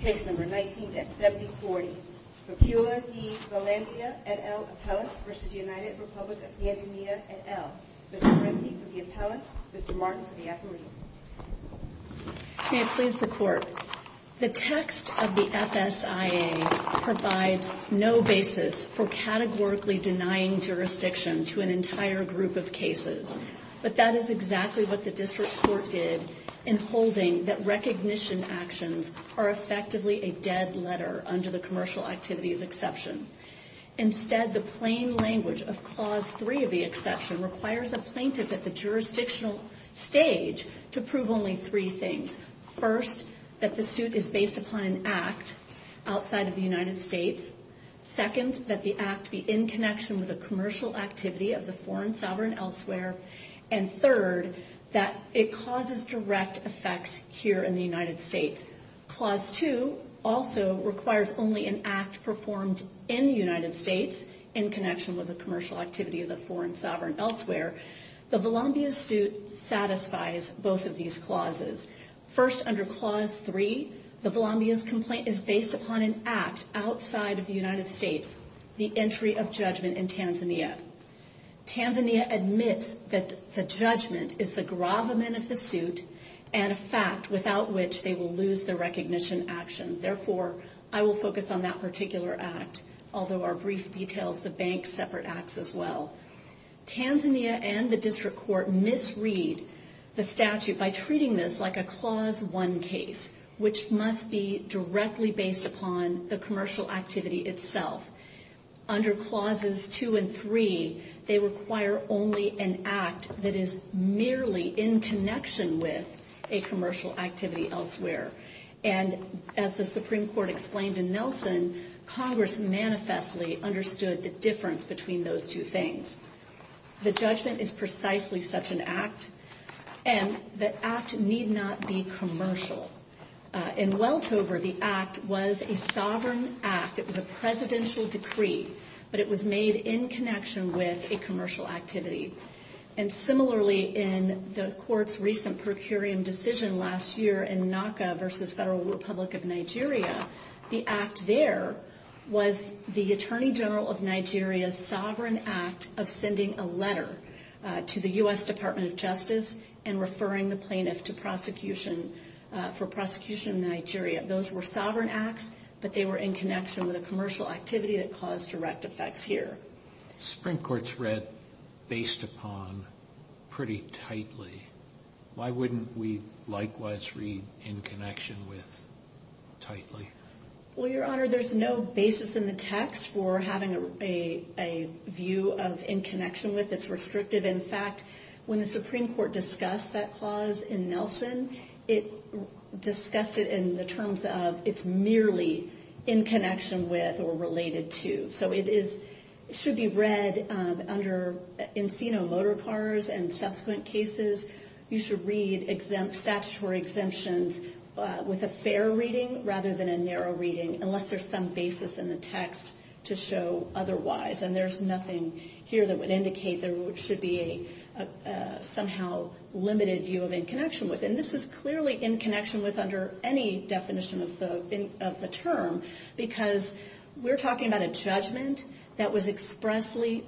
Case No. 19 at 7040, Vipula v. Valambhia et al. Appellants v. United Republic of Tanzania et al. Mr. Renzi for the Appellants, Mr. Martin for the Appellees. May it please the Court. The text of the FSIA provides no basis for categorically denying jurisdiction to an entire group of cases. But that is exactly what the District Court did in holding that recognition actions are effectively a dead letter under the Commercial Activities Exception. Instead, the plain language of Clause 3 of the Exception requires a plaintiff at the jurisdictional stage to prove only three things. First, that the suit is based upon an act outside of the United States. Second, that the act be in connection with a commercial activity of the foreign sovereign elsewhere. And third, that it causes direct effects here in the United States. Clause 2 also requires only an act performed in the United States in connection with a commercial activity of the foreign sovereign elsewhere. The Valambhia suit satisfies both of these clauses. First, under Clause 3, the Valambhia's complaint is based upon an act outside of the United States, the entry of judgment in Tanzania. Tanzania admits that the judgment is the gravamen of the suit and a fact without which they will lose the recognition action. Therefore, I will focus on that particular act, although our brief details the bank's separate acts as well. Tanzania and the District Court misread the statute by treating this like a Clause 1 case, which must be directly based upon the commercial activity itself. Under Clauses 2 and 3, they require only an act that is merely in connection with a commercial activity elsewhere. And as the Supreme Court explained in Nelson, Congress manifestly understood the difference between those two things. The judgment is precisely such an act, and the act need not be commercial. In Weltover, the act was a sovereign act. It was a presidential decree, but it was made in connection with a commercial activity. And similarly, in the Court's recent per curiam decision last year in Naka versus Federal Republic of Nigeria, the act there was the Attorney General of Nigeria's sovereign act of sending a letter to the U.S. Department of Justice and referring the plaintiff to prosecution for prosecution in Nigeria. Those were sovereign acts, but they were in connection with a commercial activity that caused direct effects here. Supreme Court's read based upon pretty tightly. Why wouldn't we likewise read in connection with tightly? Well, Your Honor, there's no basis in the text for having a view of in connection with. It's restrictive. In fact, when the Supreme Court discussed that clause in Nelson, it discussed it in the terms of it's merely in connection with or related to. So it should be read under encino motor pars and subsequent cases. You should read statutory exemptions with a fair reading rather than a narrow reading unless there's some basis in the text to show otherwise. And there's nothing here that would indicate there should be a somehow limited view of in connection with. And this is clearly in connection with under any definition of the term, because we're talking about a judgment that was expressly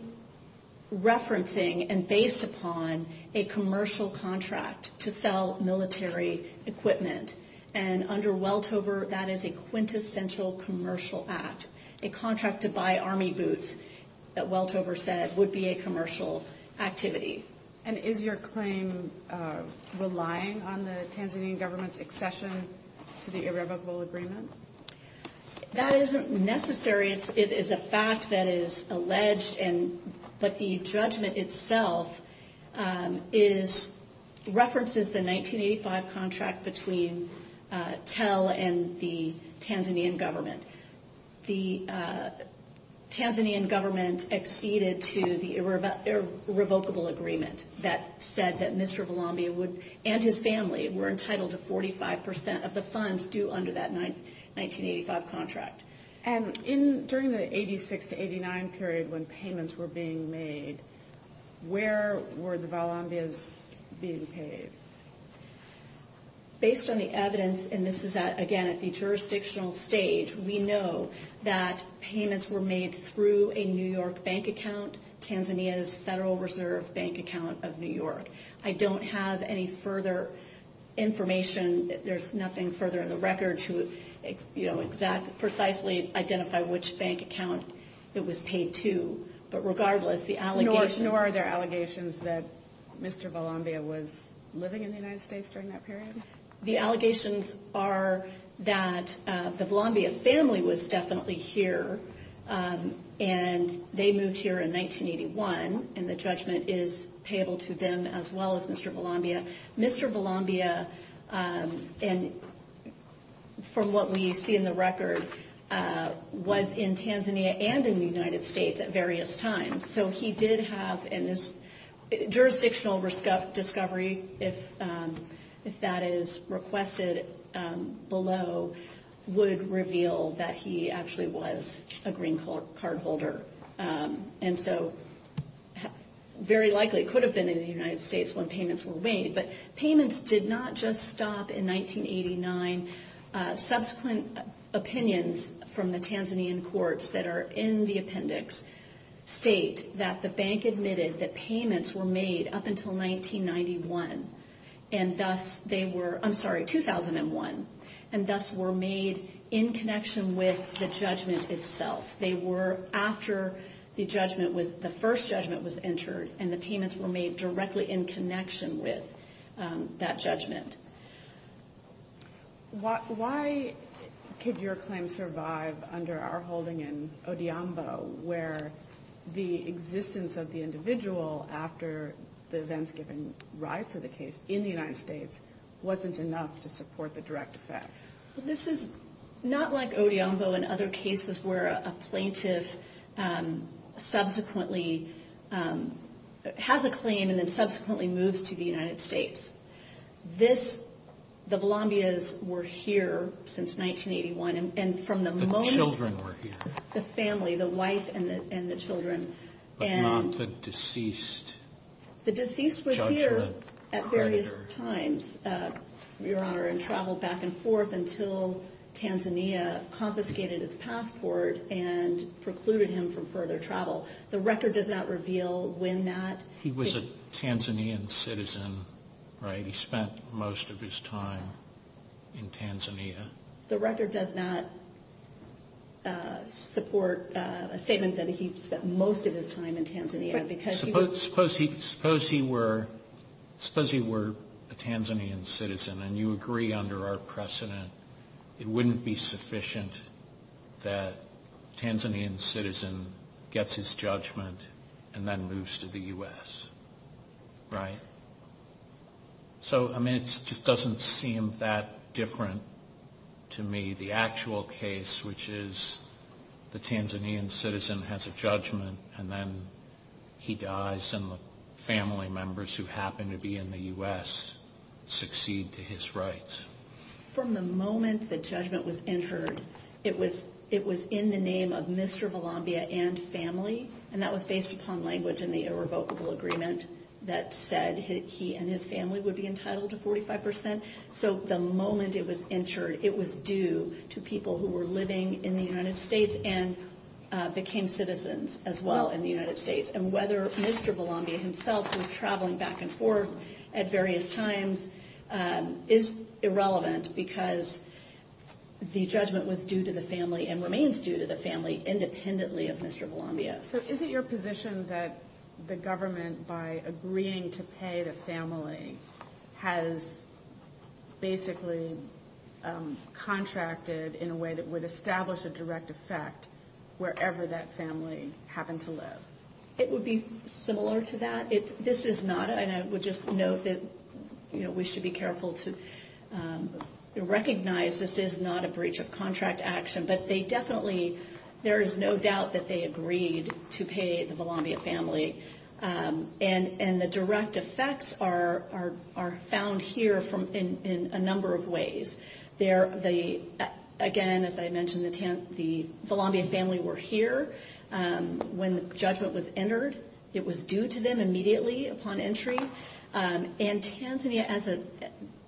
referencing and based upon a commercial contract to sell military equipment. And under Weltover, that is a quintessential commercial act. A contract to buy Army boots that Weltover said would be a commercial activity. And is your claim relying on the Tanzanian government's accession to the irrevocable agreement? That isn't necessary. It is a fact that is alleged. And but the judgment itself is references the 1985 contract between Tel and the Tanzanian government. The Tanzanian government acceded to the irrevocable agreement that said that Mr. Valambia and his family were entitled to 45% of the funds due under that 1985 contract. And during the 86 to 89 period when payments were being made, where were the Valambias being paid? Based on the evidence, and this is again at the jurisdictional stage, we know that payments were made through a New York bank account, Tanzania's Federal Reserve Bank account of New York. I don't have any further information. There's nothing further in the record to, you know, exactly precisely identify which bank account it was paid to. But regardless, the allegations... Nor are there allegations that Mr. Valambia was living in the United States during that period? The allegations are that the Valambia family was definitely here and they moved here in 1981. And the judgment is payable to them as well as Mr. Valambia. Mr. Valambia, from what we see in the record, was in Tanzania and in the United States at various times. So he did have, and this jurisdictional discovery, if that is requested below, would reveal that he actually was a green card holder. And so very likely could have been in the United States when payments were made. But payments did not just stop in 1989. Subsequent opinions from the Tanzanian courts that are in the appendix state that the bank admitted that payments were made up until 1991. And thus they were, I'm sorry, 2001. And thus were made in connection with the judgment itself. They were after the judgment was, the first judgment was entered. And the payments were made directly in connection with that judgment. Why could your claim survive under our holding in Odiombo where the existence of the individual after the events given rise to the case in the United States wasn't enough to support the direct effect? This is not like Odiombo and other cases where a plaintiff subsequently has a claim and then subsequently moves to the United States. This, the Valambias were here since 1981 and from the moment. The children were here. The family, the wife and the children. But not the deceased. The deceased was here at various times, Your Honor, and traveled back and forth until Tanzania confiscated his passport and precluded him from further travel. The record does not reveal when that. He was a Tanzanian citizen, right? He spent most of his time in Tanzania. The record does not support a statement that he spent most of his time in Tanzania. Suppose he were a Tanzanian citizen and you agree under our precedent it wouldn't be sufficient that a Tanzanian citizen gets his judgment and then moves to the U.S., right? So, I mean, it just doesn't seem that different to me. The actual case, which is the Tanzanian citizen has a judgment and then he dies and the family members who happen to be in the U.S. succeed to his rights. From the moment the judgment was entered, it was in the name of Mr. Valambia and family. And that was based upon language in the irrevocable agreement that said he and his family would be entitled to 45%. So the moment it was entered, it was due to people who were living in the United States and became citizens as well in the United States. And whether Mr. Valambia himself was traveling back and forth at various times is irrelevant because the judgment was due to the family and remains due to the family independently of Mr. Valambia. So is it your position that the government, by agreeing to pay the family, has basically contracted in a way that would establish a direct effect wherever that family happened to live? It would be similar to that. This is not, and I would just note that we should be careful to recognize this is not a breach of contract action, but they definitely, there is no doubt that they agreed to pay the Valambia family. And the direct effects are found here in a number of ways. Again, as I mentioned, the Valambia family were here when the judgment was entered. It was due to them immediately upon entry. And Tanzania, as an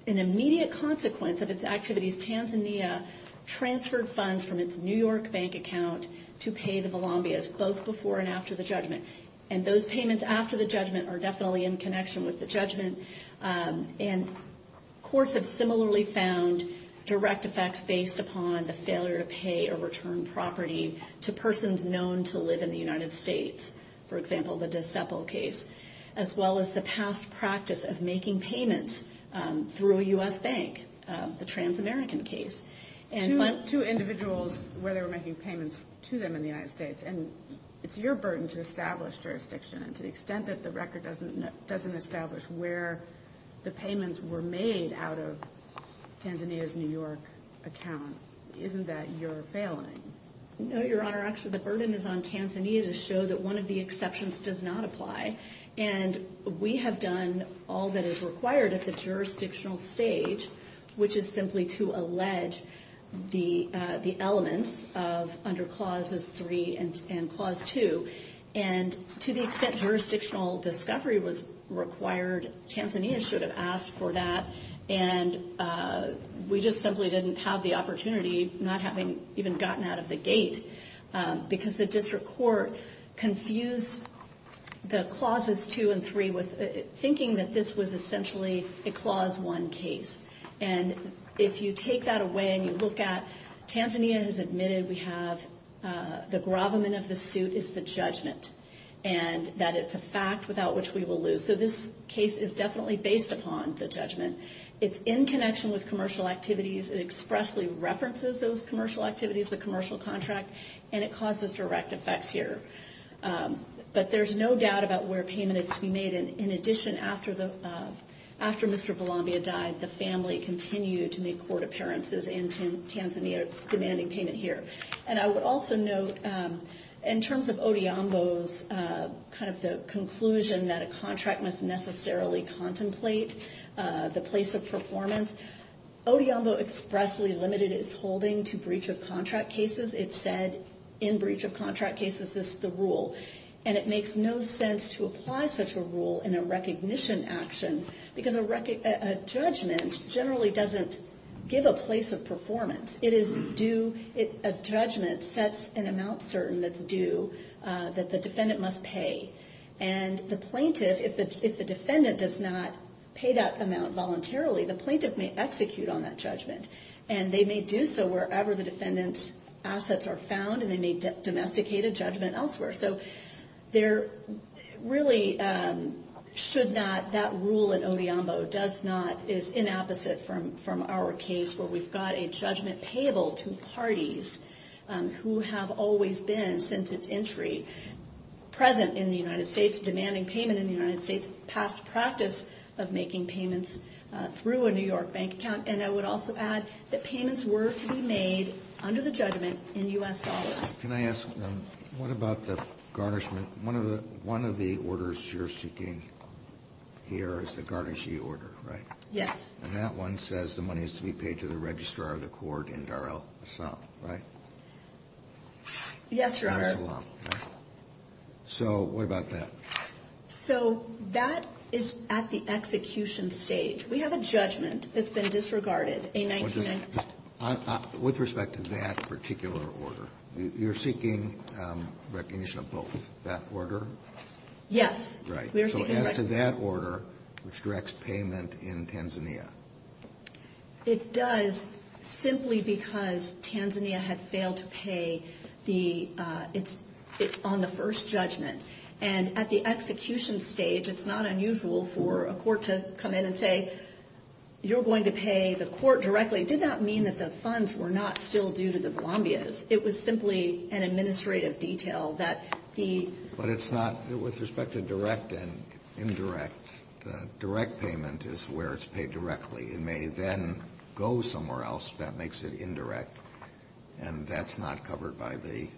immediate consequence of its activities, Tanzania transferred funds from its New York bank account to pay the Valambias, both before and after the judgment. And those payments after the judgment are definitely in connection with the judgment. And courts have similarly found direct effects based upon the failure to pay or return property to persons known to live in the United States. For example, the Dissepol case, as well as the past practice of making payments through a U.S. bank, the Trans-American case. Two individuals where they were making payments to them in the United States, and it's your burden to establish jurisdiction. And to the extent that the record doesn't establish where the payments were made out of Tanzania's New York account, isn't that your failing? No, Your Honor. Actually, the burden is on Tanzania to show that one of the exceptions does not apply. And we have done all that is required at the jurisdictional stage, which is simply to allege the elements under Clauses 3 and Clause 2. And to the extent jurisdictional discovery was required, Tanzania should have asked for that. And we just simply didn't have the opportunity, not having even gotten out of the gate, because the district court confused the Clauses 2 and 3 with thinking that this was essentially a Clause 1 case. And if you take that away and you look at Tanzania has admitted we have the gravamen of the suit is the judgment. And that it's a fact without which we will lose. So this case is definitely based upon the judgment. It's in connection with commercial activities. It expressly references those commercial activities, the commercial contract. And it causes direct effects here. But there's no doubt about where payment is to be made. And in addition, after Mr. Balambia died, the family continued to make court appearances in Tanzania demanding payment here. And I would also note, in terms of Odeombo's conclusion that a contract must necessarily contemplate the place of performance, Odeombo expressly limited its holding to breach of contract cases. It said in breach of contract cases, this is the rule. And it makes no sense to apply such a rule in a recognition action. Because a judgment generally doesn't give a place of performance. It is due, a judgment sets an amount certain that's due that the defendant must pay. And the plaintiff, if the defendant does not pay that amount voluntarily, the plaintiff may execute on that judgment. And they may do so wherever the defendant's assets are found. And they may domesticate a judgment elsewhere. So there really should not, that rule in Odeombo does not, is inapposite from our case where we've got a judgment payable to parties who have always been, since its entry, present in the United States, demanding payment in the United States. Past practice of making payments through a New York bank account. And I would also add that payments were to be made under the judgment in U.S. dollars. Can I ask, what about the garnishment? One of the orders you're seeking here is the garnishee order, right? Yes. And that one says the money is to be paid to the registrar of the court in Dar-el-Assam, right? Yes, Your Honor. Dar-el-Assam, right? So what about that? So that is at the execution stage. We have a judgment that's been disregarded. With respect to that particular order, you're seeking recognition of both. That order? Yes. Right. So as to that order, which directs payment in Tanzania. It does simply because Tanzania had failed to pay on the first judgment. And at the execution stage, it's not unusual for a court to come in and say, you're going to pay the court directly. It did not mean that the funds were not still due to the Bolombias. It was simply an administrative detail that the ---- But it's not with respect to direct and indirect. The direct payment is where it's paid directly. It may then go somewhere else. That makes it indirect. And that's not covered by the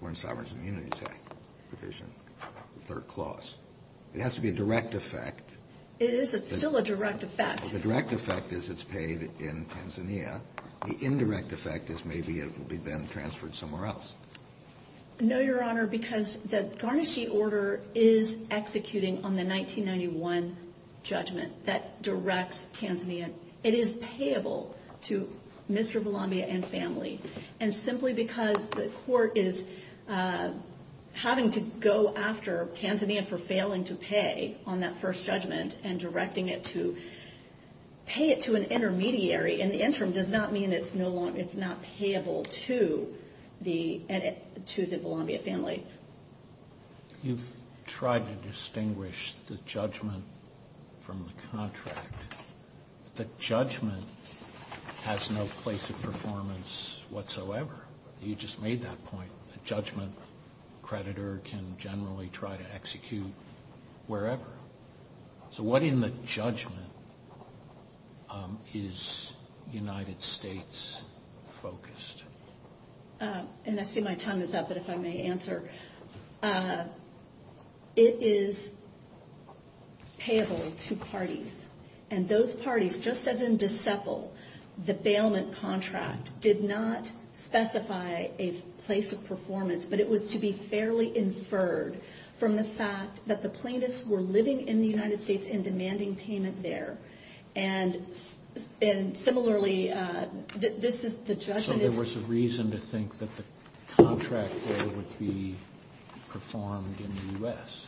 Foreign Sovereign Immunities Act provision, the third clause. It has to be a direct effect. It is. It's still a direct effect. The direct effect is it's paid in Tanzania. The indirect effect is maybe it will be then transferred somewhere else. No, Your Honor, because the Garnaschi order is executing on the 1991 judgment that directs Tanzania. It is payable to Mr. Bolombia and family. And simply because the court is having to go after Tanzania for failing to pay on that first judgment and directing it to pay it to an intermediary in the interim does not mean it's not payable to the Bolombia family. You've tried to distinguish the judgment from the contract. The judgment has no place of performance whatsoever. You just made that point. A judgment creditor can generally try to execute wherever. So what in the judgment is United States focused? And I see my time is up, but if I may answer, it is payable to parties. And those parties, just as in Decepol, the bailment contract did not specify a place of performance, but it was to be fairly inferred from the fact that the plaintiffs were living in the United States and demanding payment there. And similarly, this is the judgment. So there was a reason to think that the contract would be performed in the U.S.?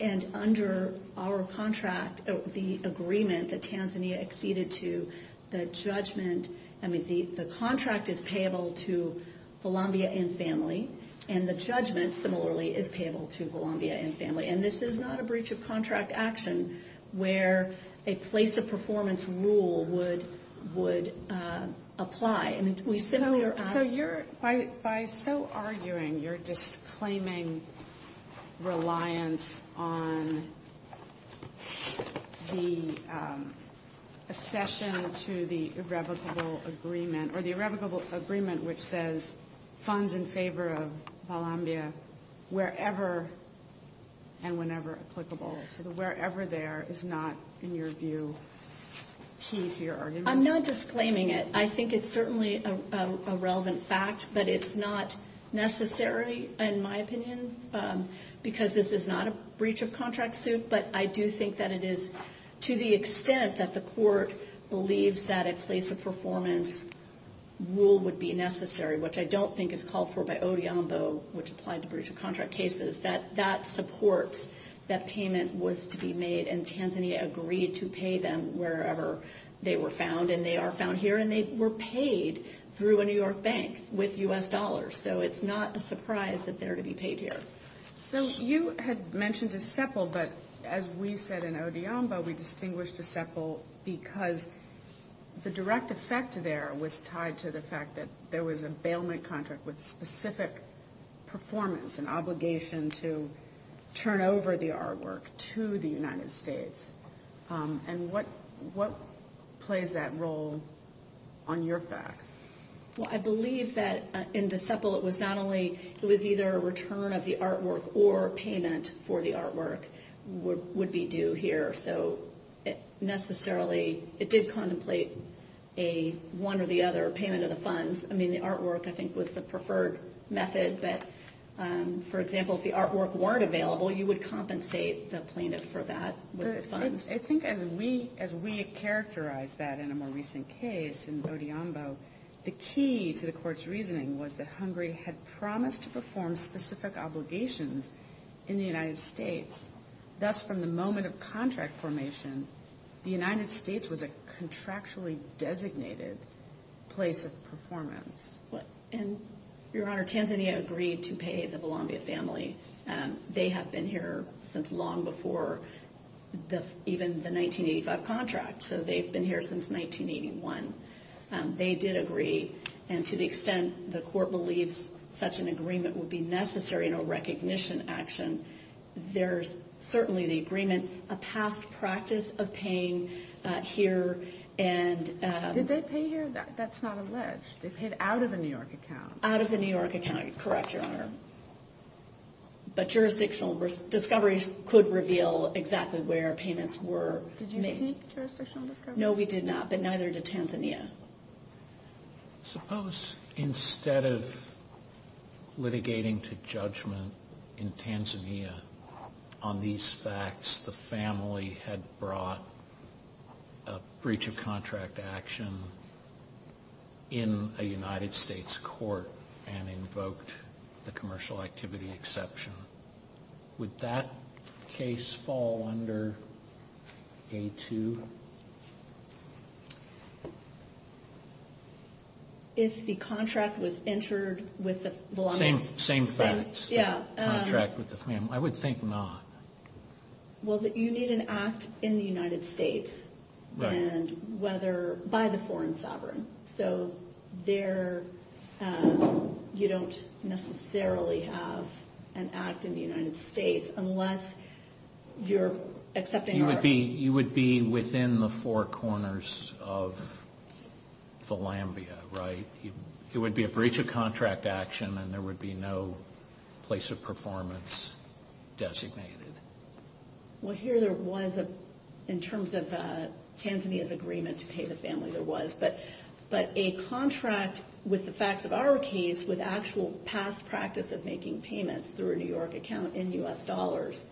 And under our contract, the agreement that Tanzania acceded to, the judgment, I mean, the contract is payable to Bolombia and family. And the judgment, similarly, is payable to Bolombia and family. And this is not a breach of contract action where a place of performance rule would apply. And we simply are asking. So you're, by so arguing, you're disclaiming reliance on the accession to the irrevocable agreement, which says funds in favor of Bolombia wherever and whenever applicable. So the wherever there is not, in your view, key to your argument? I'm not disclaiming it. I think it's certainly a relevant fact, but it's not necessary, in my opinion, because this is not a breach of contract suit. But I do think that it is to the extent that the court believes that a place of performance rule would be necessary, which I don't think is called for by ODIAMBO, which applied to breach of contract cases, that that supports that payment was to be made. And Tanzania agreed to pay them wherever they were found, and they are found here. And they were paid through a New York bank with U.S. dollars. So it's not a surprise that they're to be paid here. So you had mentioned DICEPL, but as we said in ODIAMBO, we distinguished DICEPL because the direct effect there was tied to the fact that there was a bailment contract with specific performance and obligation to turn over the artwork to the United States. And what plays that role on your facts? Well, I believe that in DICEPL it was not only – it was either a return of the artwork or payment for the artwork would be due here. So necessarily it did contemplate a one or the other payment of the funds. I mean, the artwork, I think, was the preferred method. But, for example, if the artwork weren't available, you would compensate the plaintiff for that with the funds. Yes, I think as we characterized that in a more recent case in ODIAMBO, the key to the court's reasoning was that Hungary had promised to perform specific obligations in the United States. Thus, from the moment of contract formation, the United States was a contractually designated place of performance. And, Your Honor, Tanzania agreed to pay the Balambia family. They have been here since long before even the 1985 contract. So they've been here since 1981. They did agree. And to the extent the court believes such an agreement would be necessary in a recognition action, there's certainly the agreement, a past practice of paying here and – Did they pay here? That's not alleged. They paid out of a New York account. Out of a New York account. Correct, Your Honor. But jurisdictional discoveries could reveal exactly where payments were made. Did you seek jurisdictional discovery? No, we did not. But neither did Tanzania. Suppose instead of litigating to judgment in Tanzania on these facts, the family had brought a breach of contract action in a United States court and invoked the commercial activity exception. Would that case fall under A2? If the contract was entered with the Balambians. Same facts. Yeah. Contract with the family. I would think not. Well, you need an act in the United States and whether – by the foreign sovereign. So there you don't necessarily have an act in the United States unless you're accepting our – You would be within the four corners of the Lambia, right? It would be a breach of contract action and there would be no place of performance designated. Well, here there was, in terms of Tanzania's agreement to pay the family, there was. But a contract with the facts of our case, with actual past practice of making payments through a New York account in U.S. dollars,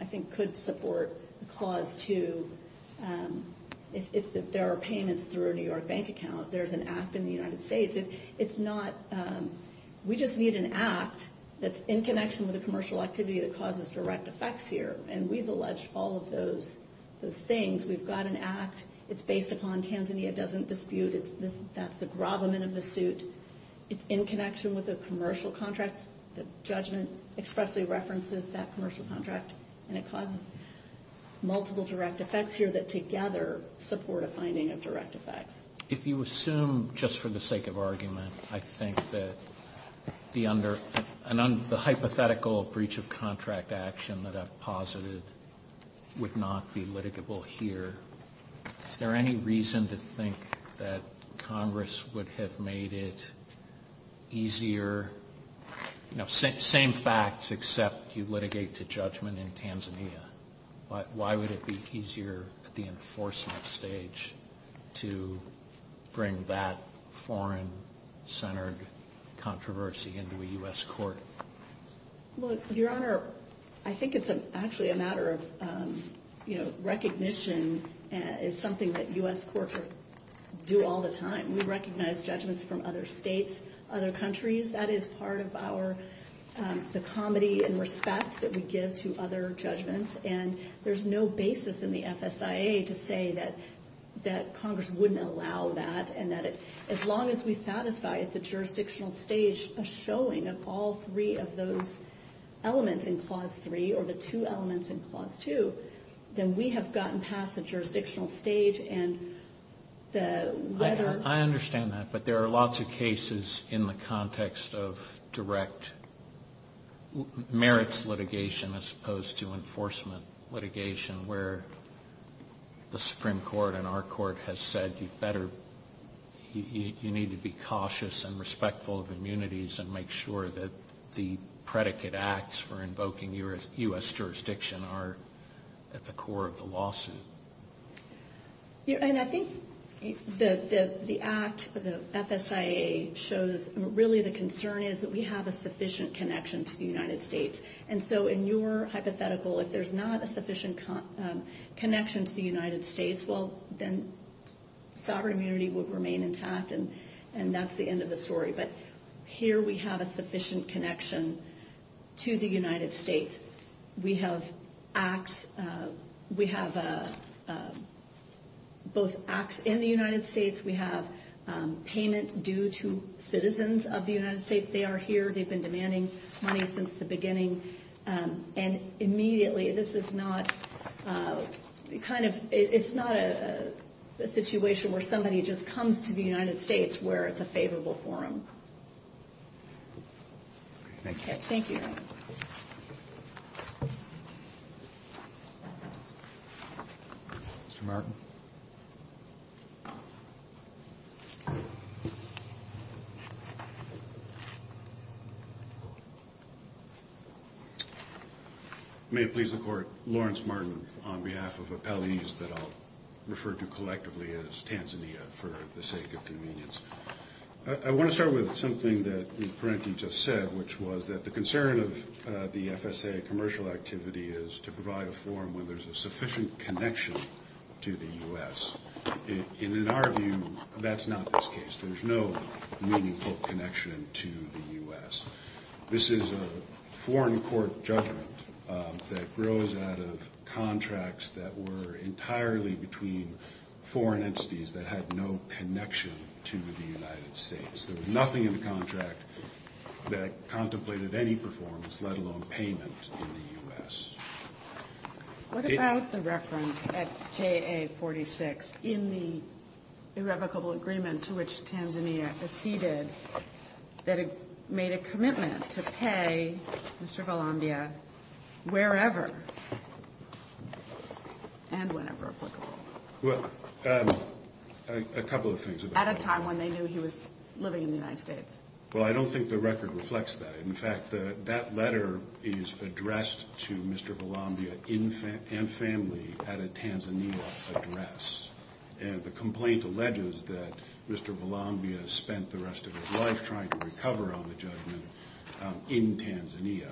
I think could support clause 2. If there are payments through a New York bank account, there's an act in the United States. It's not – we just need an act that's in connection with a commercial activity that causes direct effects here. And we've alleged all of those things. We've got an act. It's based upon Tanzania. It doesn't dispute. That's the gravamen of the suit. It's in connection with a commercial contract. The judgment expressly references that commercial contract. And it causes multiple direct effects here that together support a finding of direct effects. If you assume, just for the sake of argument, I think that the hypothetical breach of contract action that I've posited would not be litigable here, is there any reason to think that Congress would have made it easier – same facts except you litigate to judgment in Tanzania. Why would it be easier at the enforcement stage to bring that foreign-centered controversy into a U.S. court? Well, Your Honor, I think it's actually a matter of recognition. It's something that U.S. courts do all the time. We recognize judgments from other states, other countries. That is part of our – the comedy and respect that we give to other judgments. And there's no basis in the FSIA to say that Congress wouldn't allow that and that as long as we satisfy the jurisdictional stage, a showing of all three of those elements in Clause 3 or the two elements in Clause 2, then we have gotten past the jurisdictional stage and the – I understand that, but there are lots of cases in the context of direct merits litigation as opposed to enforcement litigation where the Supreme Court and our court has said you better – you need to be cautious and respectful of immunities and make sure that the predicate acts for invoking U.S. jurisdiction are at the core of the lawsuit. And I think the act, the FSIA, shows – really the concern is that we have a sufficient connection to the United States. And so in your hypothetical, if there's not a sufficient connection to the United States, well, then sovereign immunity would remain intact and that's the end of the story. But here we have a sufficient connection to the United States. We have acts – we have both acts in the United States. We have payment due to citizens of the United States. They are here. They've been demanding money since the beginning. And immediately, this is not kind of – it's not a situation where somebody just comes to the United States where it's a favorable forum. Okay. Thank you. Okay. Thank you. Mr. Martin. May it please the Court. Lawrence Martin on behalf of appellees that I'll refer to collectively as Tanzania for the sake of convenience. I want to start with something that Ms. Parenti just said, which was that the concern of the FSIA commercial activity is to provide a forum where there's a sufficient connection to the U.S. And in our view, that's not this case. There's no meaningful connection to the U.S. This is a foreign court judgment that grows out of contracts that were entirely between foreign entities that had no connection to the United States. There was nothing in the contract that contemplated any performance, let alone payment, in the U.S. What about the reference at JA-46 in the irrevocable agreement to which Tanzania acceded that it made a commitment to pay Mr. Golombia wherever and whenever applicable? Well, a couple of things about that. At a time when they knew he was living in the United States. Well, I don't think the record reflects that. In fact, that letter is addressed to Mr. Golombia and family at a Tanzania address. And the complaint alleges that Mr. Golombia spent the rest of his life trying to recover on the judgment in Tanzania.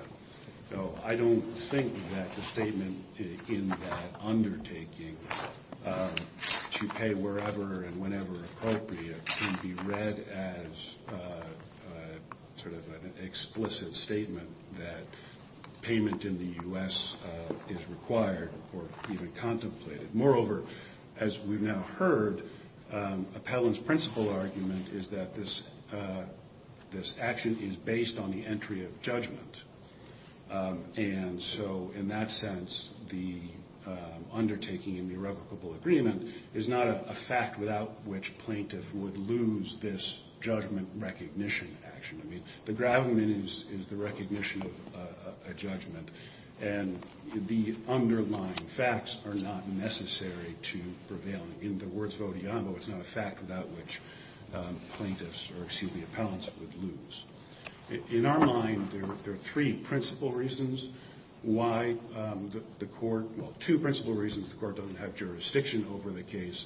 So I don't think that the statement in that undertaking, to pay wherever and whenever appropriate, can be read as sort of an explicit statement that payment in the U.S. is required or even contemplated. Moreover, as we've now heard, Appellant's principal argument is that this action is based on the entry of judgment. And so in that sense, the undertaking in the irrevocable agreement is not a fact without which plaintiffs would lose this judgment recognition action. I mean, the gravamen is the recognition of a judgment. And the underlying facts are not necessary to prevail. In the words of Oduyambo, it's not a fact without which plaintiffs or, excuse me, appellants would lose. In our mind, there are three principal reasons why the court, well, two principal reasons the court doesn't have jurisdiction over the case.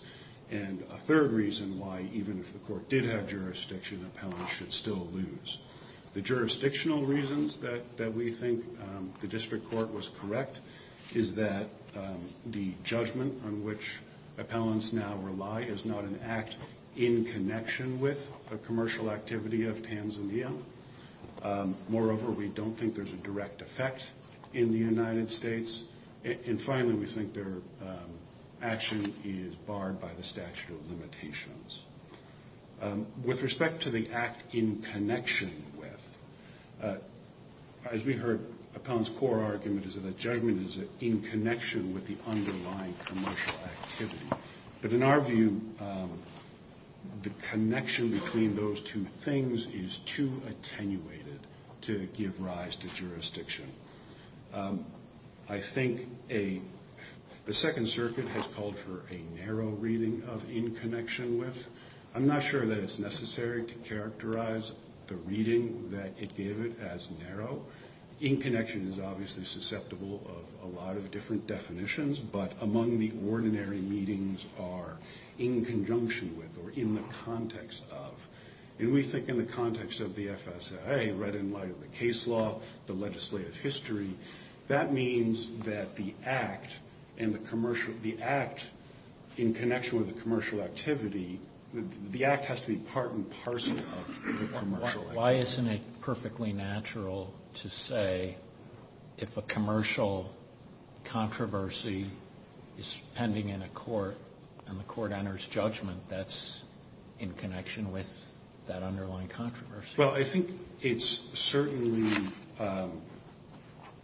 And a third reason why even if the court did have jurisdiction, appellants should still lose. The jurisdictional reasons that we think the district court was correct is that the judgment on which appellants now rely is not an act in connection with a commercial activity of Tanzania. Moreover, we don't think there's a direct effect in the United States. And finally, we think their action is barred by the statute of limitations. With respect to the act in connection with, as we heard Appellant's core argument is that judgment is in connection with the underlying commercial activity. But in our view, the connection between those two things is too attenuated to give rise to jurisdiction. I think the Second Circuit has called for a narrow reading of in connection with. I'm not sure that it's necessary to characterize the reading that it gave it as narrow. In connection is obviously susceptible of a lot of different definitions, but among the ordinary meetings are in conjunction with or in the context of. And we think in the context of the FSAA, right in light of the case law, the legislative history, that means that the act in connection with the commercial activity, the act has to be part and parcel of the commercial activity. Well, I think it's certainly,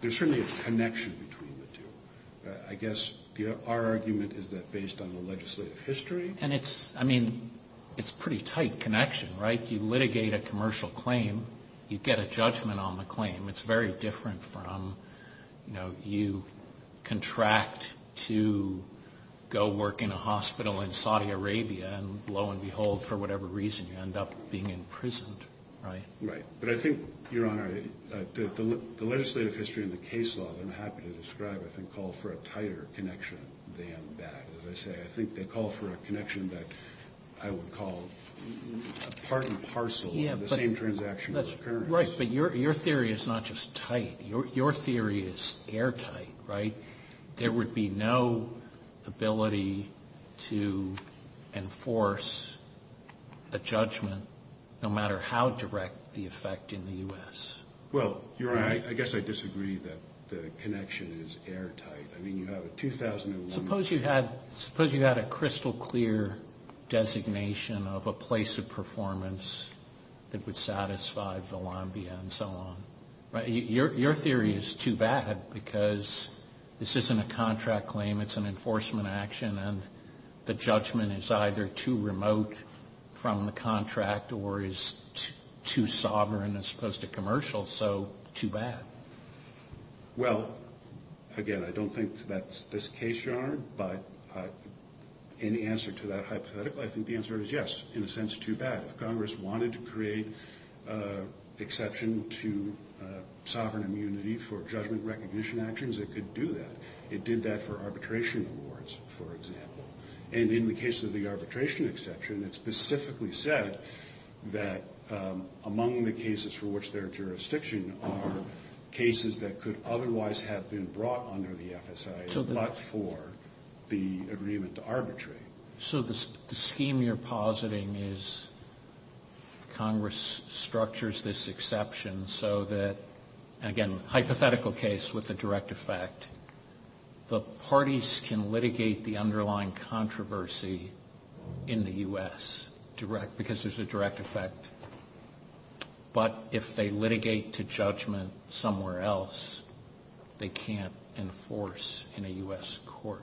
there's certainly a connection between the two. I guess our argument is that based on the legislative history. And it's, I mean, it's a pretty tight connection, right? You litigate a commercial claim, you get a judgment on the claim. It's very different from, you know, you contract to go work in a hospital in Saudi Arabia. And lo and behold, for whatever reason, you end up being imprisoned, right? Right. But I think, Your Honor, the legislative history and the case law, I'm happy to describe, I think, call for a tighter connection than that. As I say, I think they call for a connection that I would call part and parcel of the same transaction. Right. But your theory is not just tight. Your theory is airtight, right? There would be no ability to enforce a judgment no matter how direct the effect in the U.S. Well, Your Honor, I guess I disagree that the connection is airtight. Suppose you had a crystal clear designation of a place of performance that would satisfy Volambia and so on. Your theory is too bad because this isn't a contract claim. It's an enforcement action, and the judgment is either too remote from the contract or is too sovereign as opposed to commercial, so too bad. Well, again, I don't think that's this case, Your Honor, but in answer to that hypothetical, I think the answer is yes. In a sense, too bad. If Congress wanted to create exception to sovereign immunity for judgment recognition actions, it could do that. It did that for arbitration awards, for example. And in the case of the arbitration exception, it specifically said that among the cases for which there are jurisdictions are cases that could otherwise have been brought under the FSA but for the agreement to arbitrate. So the scheme you're positing is Congress structures this exception so that, again, hypothetical case with a direct effect, the parties can litigate the underlying controversy in the U.S. because there's a direct effect. But if they litigate to judgment somewhere else, they can't enforce in a U.S. court.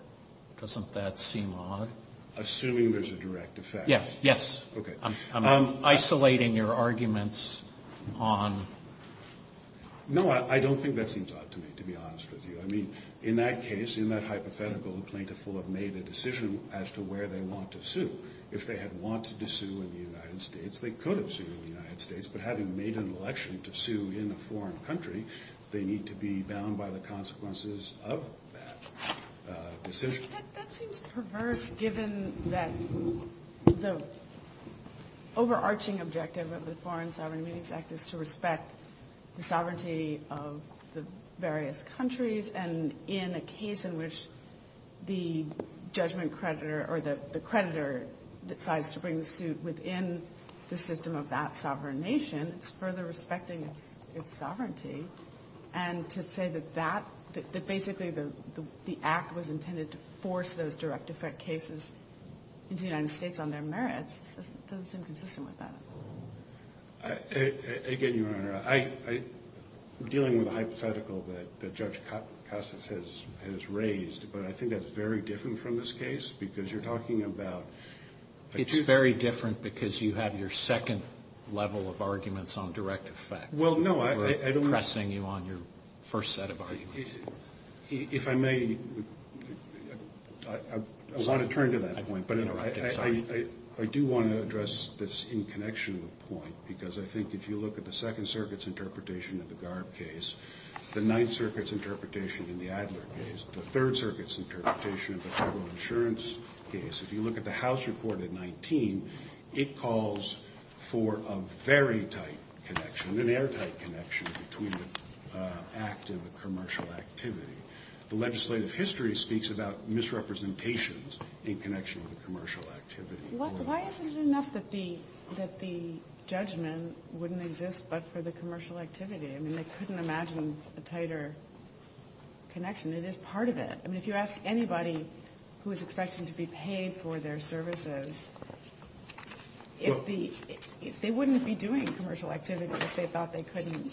Doesn't that seem odd? Assuming there's a direct effect. Yes. Okay. I'm isolating your arguments on... No, I don't think that seems odd to me, to be honest with you. I mean, in that case, in that hypothetical, the plaintiff will have made a decision as to where they want to sue. If they had wanted to sue in the United States, they could have sued in the United States. But having made an election to sue in a foreign country, they need to be bound by the consequences of that decision. I mean, that seems perverse given that the overarching objective of the Foreign Sovereign Immunities Act is to respect the sovereignty of the various countries. And in a case in which the judgment creditor or the creditor decides to bring the suit within the system of that sovereign nation, it's further respecting its sovereignty. And to say that that, that basically the act was intended to force those direct effect cases into the United States on their merits, doesn't seem consistent with that. Again, Your Honor, I'm dealing with a hypothetical that Judge Cassas has raised. But I think that's very different from this case because you're talking about... It's very different because you have your second level of arguments on direct effect. Well, no, I don't... We're pressing you on your first set of arguments. If I may, I want to turn to that point, but I do want to address this in connection to the point because I think if you look at the Second Circuit's interpretation of the Garb case, the Ninth Circuit's interpretation in the Adler case, the Third Circuit's case, if you look at the House report at 19, it calls for a very tight connection, an airtight connection between the act and the commercial activity. The legislative history speaks about misrepresentations in connection with the commercial activity. Why is it enough that the judgment wouldn't exist but for the commercial activity? I mean, they couldn't imagine a tighter connection. It is part of it. I mean, if you ask anybody who is expecting to be paid for their services, they wouldn't be doing commercial activity if they thought they couldn't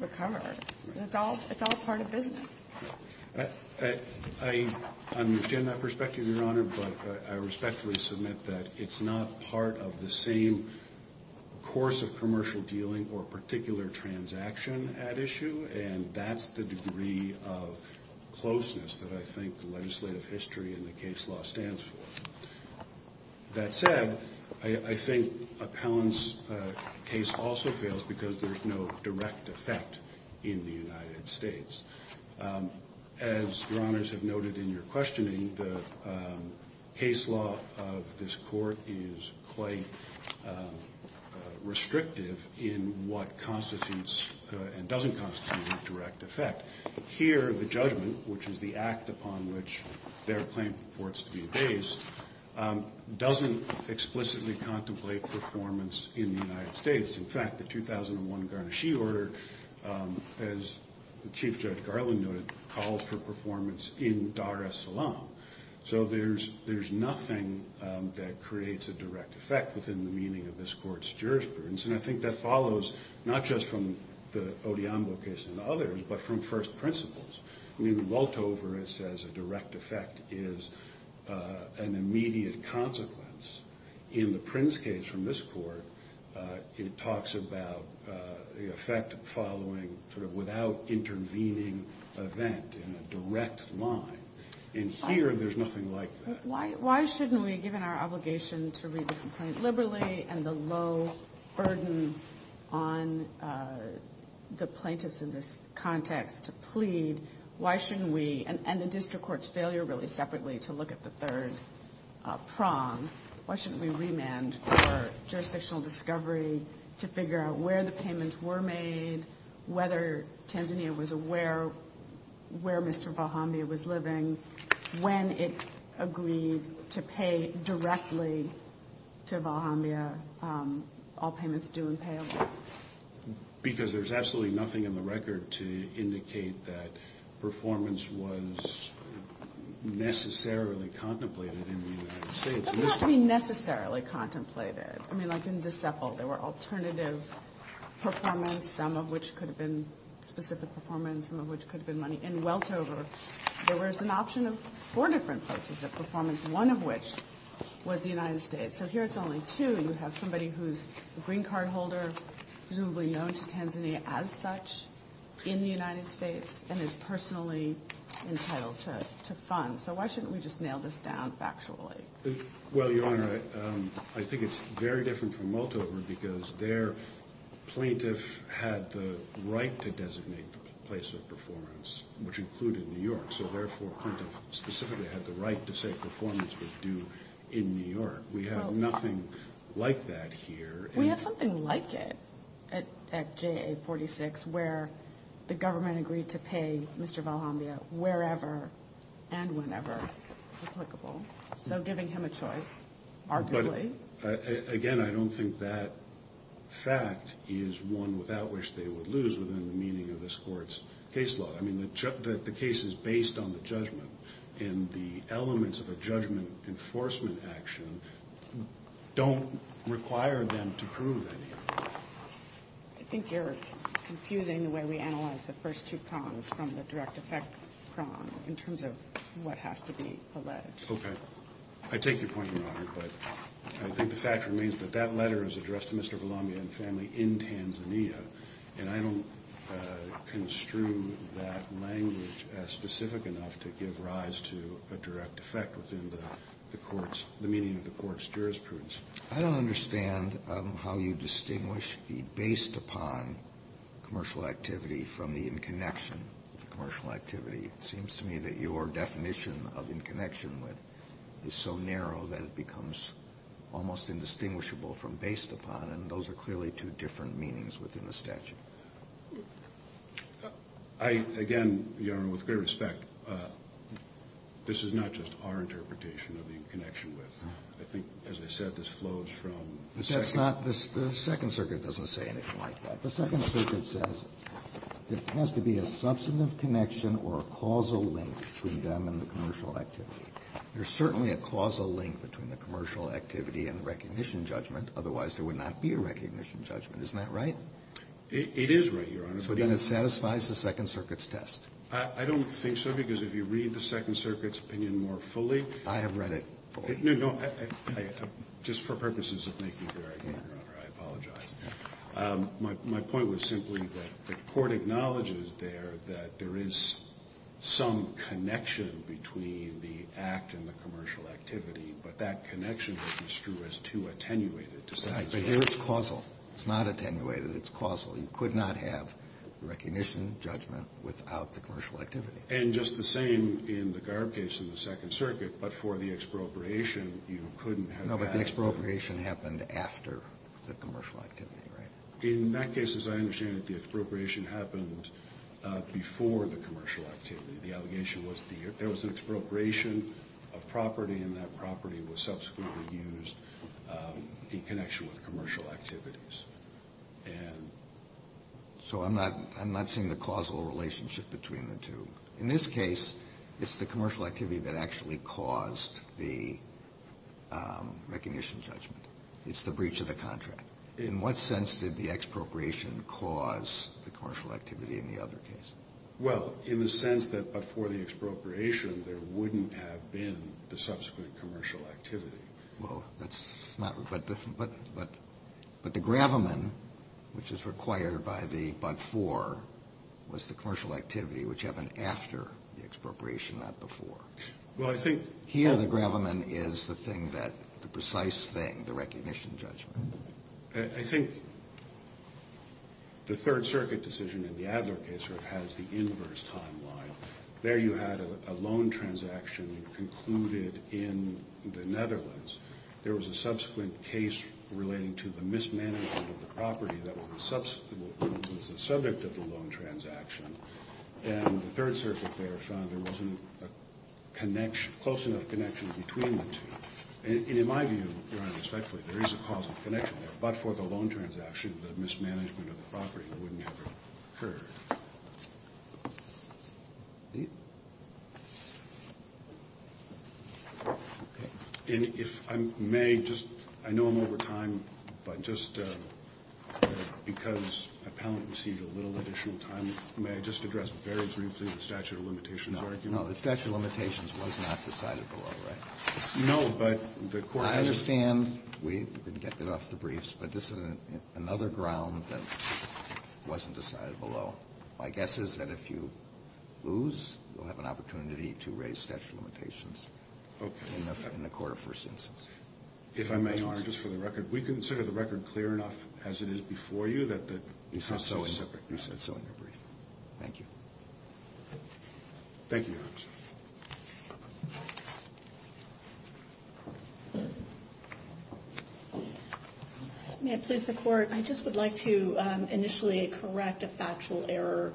recover. It's all part of business. I understand that perspective, Your Honor, but I respectfully submit that it's not part of the same course of commercial dealing or particular transaction at issue, and that's the degree of closeness that I think the legislative history and the case law stands for. That said, I think Appellant's case also fails because there's no direct effect in the United States. As Your Honors have noted in your questioning, the case law of this court is quite restrictive in what constitutes and doesn't constitute a direct effect. Here, the judgment, which is the act upon which their claim reports to be based, doesn't explicitly contemplate performance in the United States. In fact, the 2001 Garnaschee Order, as Chief Judge Garland noted, called for performance in Dar es Salaam. So there's nothing that creates a direct effect within the meaning of this court's jurisprudence, and I think that follows not just from the Odhiambo case and others, but from first principles. I mean, in Woltover it says a direct effect is an immediate consequence. In the Prince case from this court, it talks about the effect following sort of without intervening event in a direct line. In here, there's nothing like that. Why shouldn't we, given our obligation to read the complaint liberally and the low burden on the plaintiffs in this context to plead, why shouldn't we, and the district court's failure really separately to look at the third prong, why shouldn't we remand for jurisdictional discovery to figure out where the payments were made, whether Tanzania was aware where Mr. Valhambia was living, when it agreed to pay directly to Valhambia all payments due and payable? Because there's absolutely nothing in the record to indicate that performance was necessarily contemplated in the United States. Not necessarily contemplated. I mean, like in Decepol, there were alternative performance, some of which could have been specific performance, some of which could have been money. In Woltover, there was an option of four different places of performance, one of which was the United States. So here it's only two. You have somebody who's a green card holder, presumably known to Tanzania as such, in the United States and is personally entitled to funds. So why shouldn't we just nail this down factually? Well, Your Honor, I think it's very different from Woltover because their plaintiff had the right to designate the place of performance, which included New York. So therefore plaintiff specifically had the right to say performance was due in New York. We have nothing like that here. We have something like it at JA 46, where the government agreed to pay Mr. Valhambia wherever and whenever applicable. So giving him a choice arguably. Again, I don't think that fact is one without which they would lose within the meaning of this Court's case law. I mean, the case is based on the judgment, and the elements of a judgment enforcement action don't require them to prove anything. I think you're confusing the way we analyze the first two prongs from the direct effect prong in terms of what has to be alleged. Okay. I take your point, Your Honor, but I think the fact remains that that letter is addressed to Mr. Valhambia and family in Tanzania, and I don't construe that language as specific enough to give rise to a direct effect within the meaning of the Court's jurisprudence. I don't understand how you distinguish the based upon commercial activity from the in connection with the commercial activity. It seems to me that your definition of in connection with is so narrow that it becomes almost indistinguishable from based upon, and those are clearly two different meanings within the statute. I, again, Your Honor, with great respect, this is not just our interpretation of in connection with. I think, as I said, this flows from the second. The Second Circuit doesn't say anything like that. The Second Circuit says there has to be a substantive connection or a causal link between them and the commercial activity. There's certainly a causal link between the commercial activity and the recognition judgment, otherwise there would not be a recognition judgment. Isn't that right? It is right, Your Honor. So then it satisfies the Second Circuit's test. I don't think so, because if you read the Second Circuit's opinion more fully. I have read it fully. No, no. Just for purposes of making it clear, Your Honor, I apologize. My point was simply that the Court acknowledges there that there is some connection between the act and the commercial activity, but that connection is as true as too attenuated to Second Circuit. But here it's causal. It's not attenuated. It's causal. You could not have recognition judgment without the commercial activity. And just the same in the Garb case in the Second Circuit, but for the expropriation you couldn't have that. No, but the expropriation happened after the commercial activity, right? In that case, as I understand it, the expropriation happened before the commercial activity. The allegation was there was an expropriation of property and that property was subsequently used in connection with commercial activities. So I'm not seeing the causal relationship between the two. In this case, it's the commercial activity that actually caused the recognition judgment. It's the breach of the contract. In what sense did the expropriation cause the commercial activity in the other case? Well, in the sense that before the expropriation there wouldn't have been the subsequent commercial activity. Well, that's not the point. But the gravamen, which is required by the but for, was the commercial activity which happened after the expropriation, not before. Well, I think. Here the gravamen is the thing that, the precise thing, the recognition judgment. I think the Third Circuit decision in the Adler case sort of has the inverse timeline. There you had a loan transaction concluded in the Netherlands. There was a subsequent case relating to the mismanagement of the property that was the subject of the loan transaction. And the Third Circuit there found there wasn't a close enough connection between the two. And in my view, Your Honor, respectfully, there is a causal connection there. But for the loan transaction, the mismanagement of the property wouldn't have occurred. And if I may just, I know I'm over time, but just because I apparently received a little additional time, may I just address very briefly the statute of limitations argument? No. No. The statute of limitations was not decided below, right? No. But the Court has. I understand. We've been getting off the briefs. But this is another ground that wasn't decided below. My guess is that if you lose, you'll have an opportunity to raise statute of limitations in the court of first instance. If I may, Your Honor, just for the record, we consider the record clear enough, as it is before you, that the process is separate. You said so in your brief. Thank you. Thank you, Your Honor. Thank you. May it please the Court? I just would like to initially correct a factual error.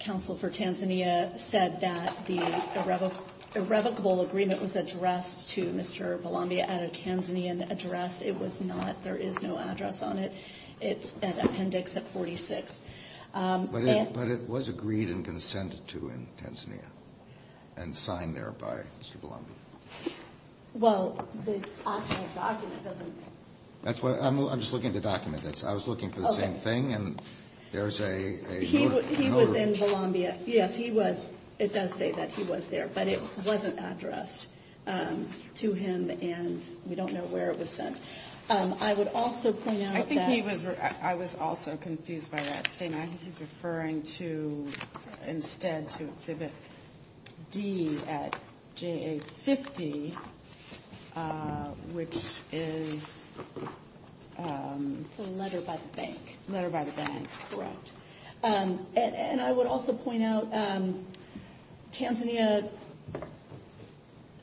Counsel for Tanzania said that the irrevocable agreement was addressed to Mr. Balambia at a Tanzanian address. It was not. There is no address on it. It's an appendix at 46. But it was agreed and consented to in Tanzania and signed there by Mr. Balambia. Well, the actual document doesn't. I'm just looking at the document. I was looking for the same thing, and there's a note. He was in Balambia. Yes, he was. It does say that he was there. But it wasn't addressed to him, and we don't know where it was sent. I would also point out that. I was also confused by that statement. I think he's referring to instead to Exhibit D at JA-50, which is... It's a letter by the bank. Letter by the bank, correct. And I would also point out Tanzania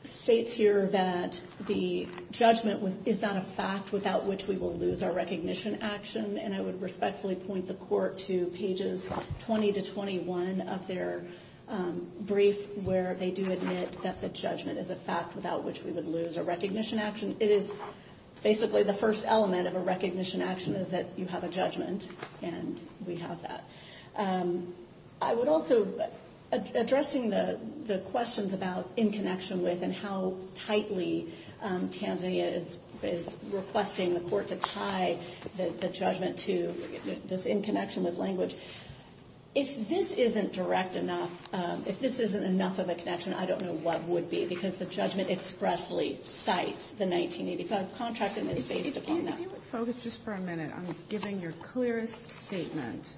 states here that the judgment was, is not a fact without which we will lose our recognition action. And I would respectfully point the court to pages 20 to 21 of their brief where they do admit that the judgment is a fact without which we would lose our recognition action. It is basically the first element of a recognition action is that you have a judgment, and we have that. I would also... Addressing the questions about in connection with and how tightly Tanzania is requesting the court to tie the judgment to this in connection with language. If this isn't direct enough, if this isn't enough of a connection, I don't know what would be. Because the judgment expressly cites the 1985 contract, and it's based upon that. If you would focus just for a minute on giving your clearest statement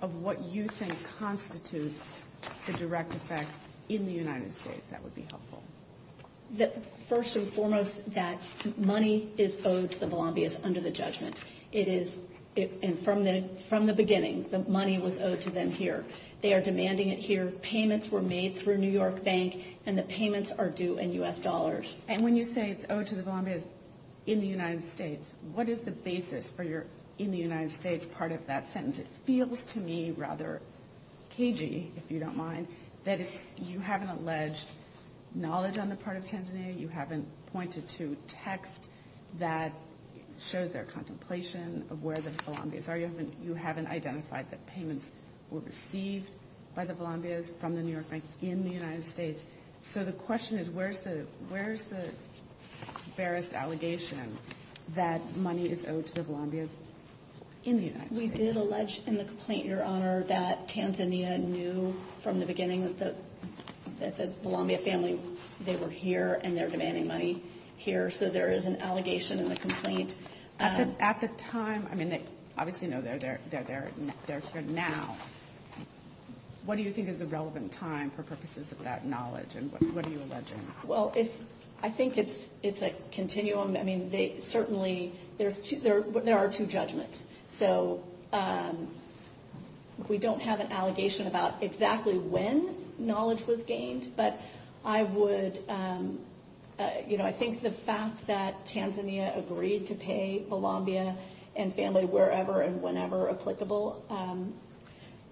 of what you think constitutes the direct effect in the United States, that would be helpful. First and foremost, that money is owed to the Bolombias under the judgment. It is... And from the beginning, the money was owed to them here. They are demanding it here. Payments were made through New York Bank, and the payments are due in U.S. dollars. And when you say it's owed to the Bolombias in the United States, what is the basis for your in the United States part of that sentence? It feels to me rather cagey, if you don't mind, that you haven't alleged knowledge on the part of Tanzania. You haven't pointed to text that shows their contemplation of where the Bolombias are. You haven't identified that payments were received by the Bolombias from the New York Bank in the United States. So the question is, where's the barest allegation that money is owed to the Bolombias in the United States? We did allege in the complaint, Your Honor, that Tanzania knew from the beginning that the Bolombia family, they were here and they're demanding money here. So there is an allegation in the complaint. At the time, I mean, they obviously know they're here now. What do you think is the relevant time for purposes of that knowledge, and what are you alleging? Well, I think it's a continuum. I mean, certainly there are two judgments. So we don't have an allegation about exactly when knowledge was gained, but I would, you know, I think the fact that Tanzania agreed to pay Bolombia and family wherever and whenever applicable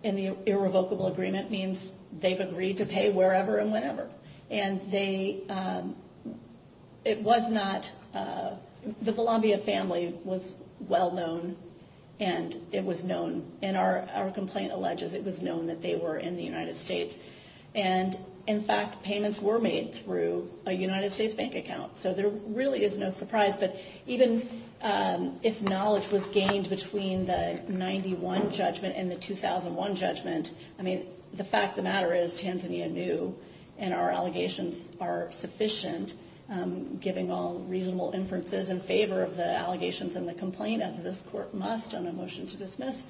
in the irrevocable agreement means they've agreed to pay wherever and whenever. And they, it was not, the Bolombia family was well known, and it was known, and our complaint alleges it was known that they were in the United States. And, in fact, payments were made through a United States bank account. So there really is no surprise. But even if knowledge was gained between the 91 judgment and the 2001 judgment, I mean, the fact of the matter is, and our allegations are sufficient, giving all reasonable inferences in favor of the allegations in the complaint, as this Court must on a motion to dismiss,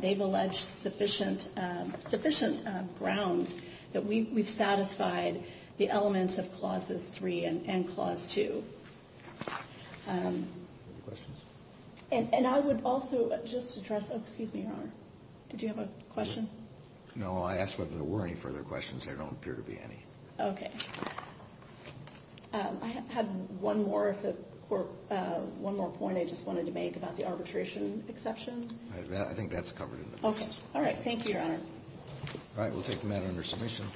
they've alleged sufficient grounds that we've satisfied the elements of Clauses 3 and Clause 2. And I would also just address, excuse me, Your Honor. Did you have a question? No, I asked whether there were any further questions. There don't appear to be any. Okay. I have one more if the Court, one more point I just wanted to make about the arbitration exception. I think that's covered in the motion. Okay. All right. Thank you, Your Honor. All right. We'll take the matter under submission.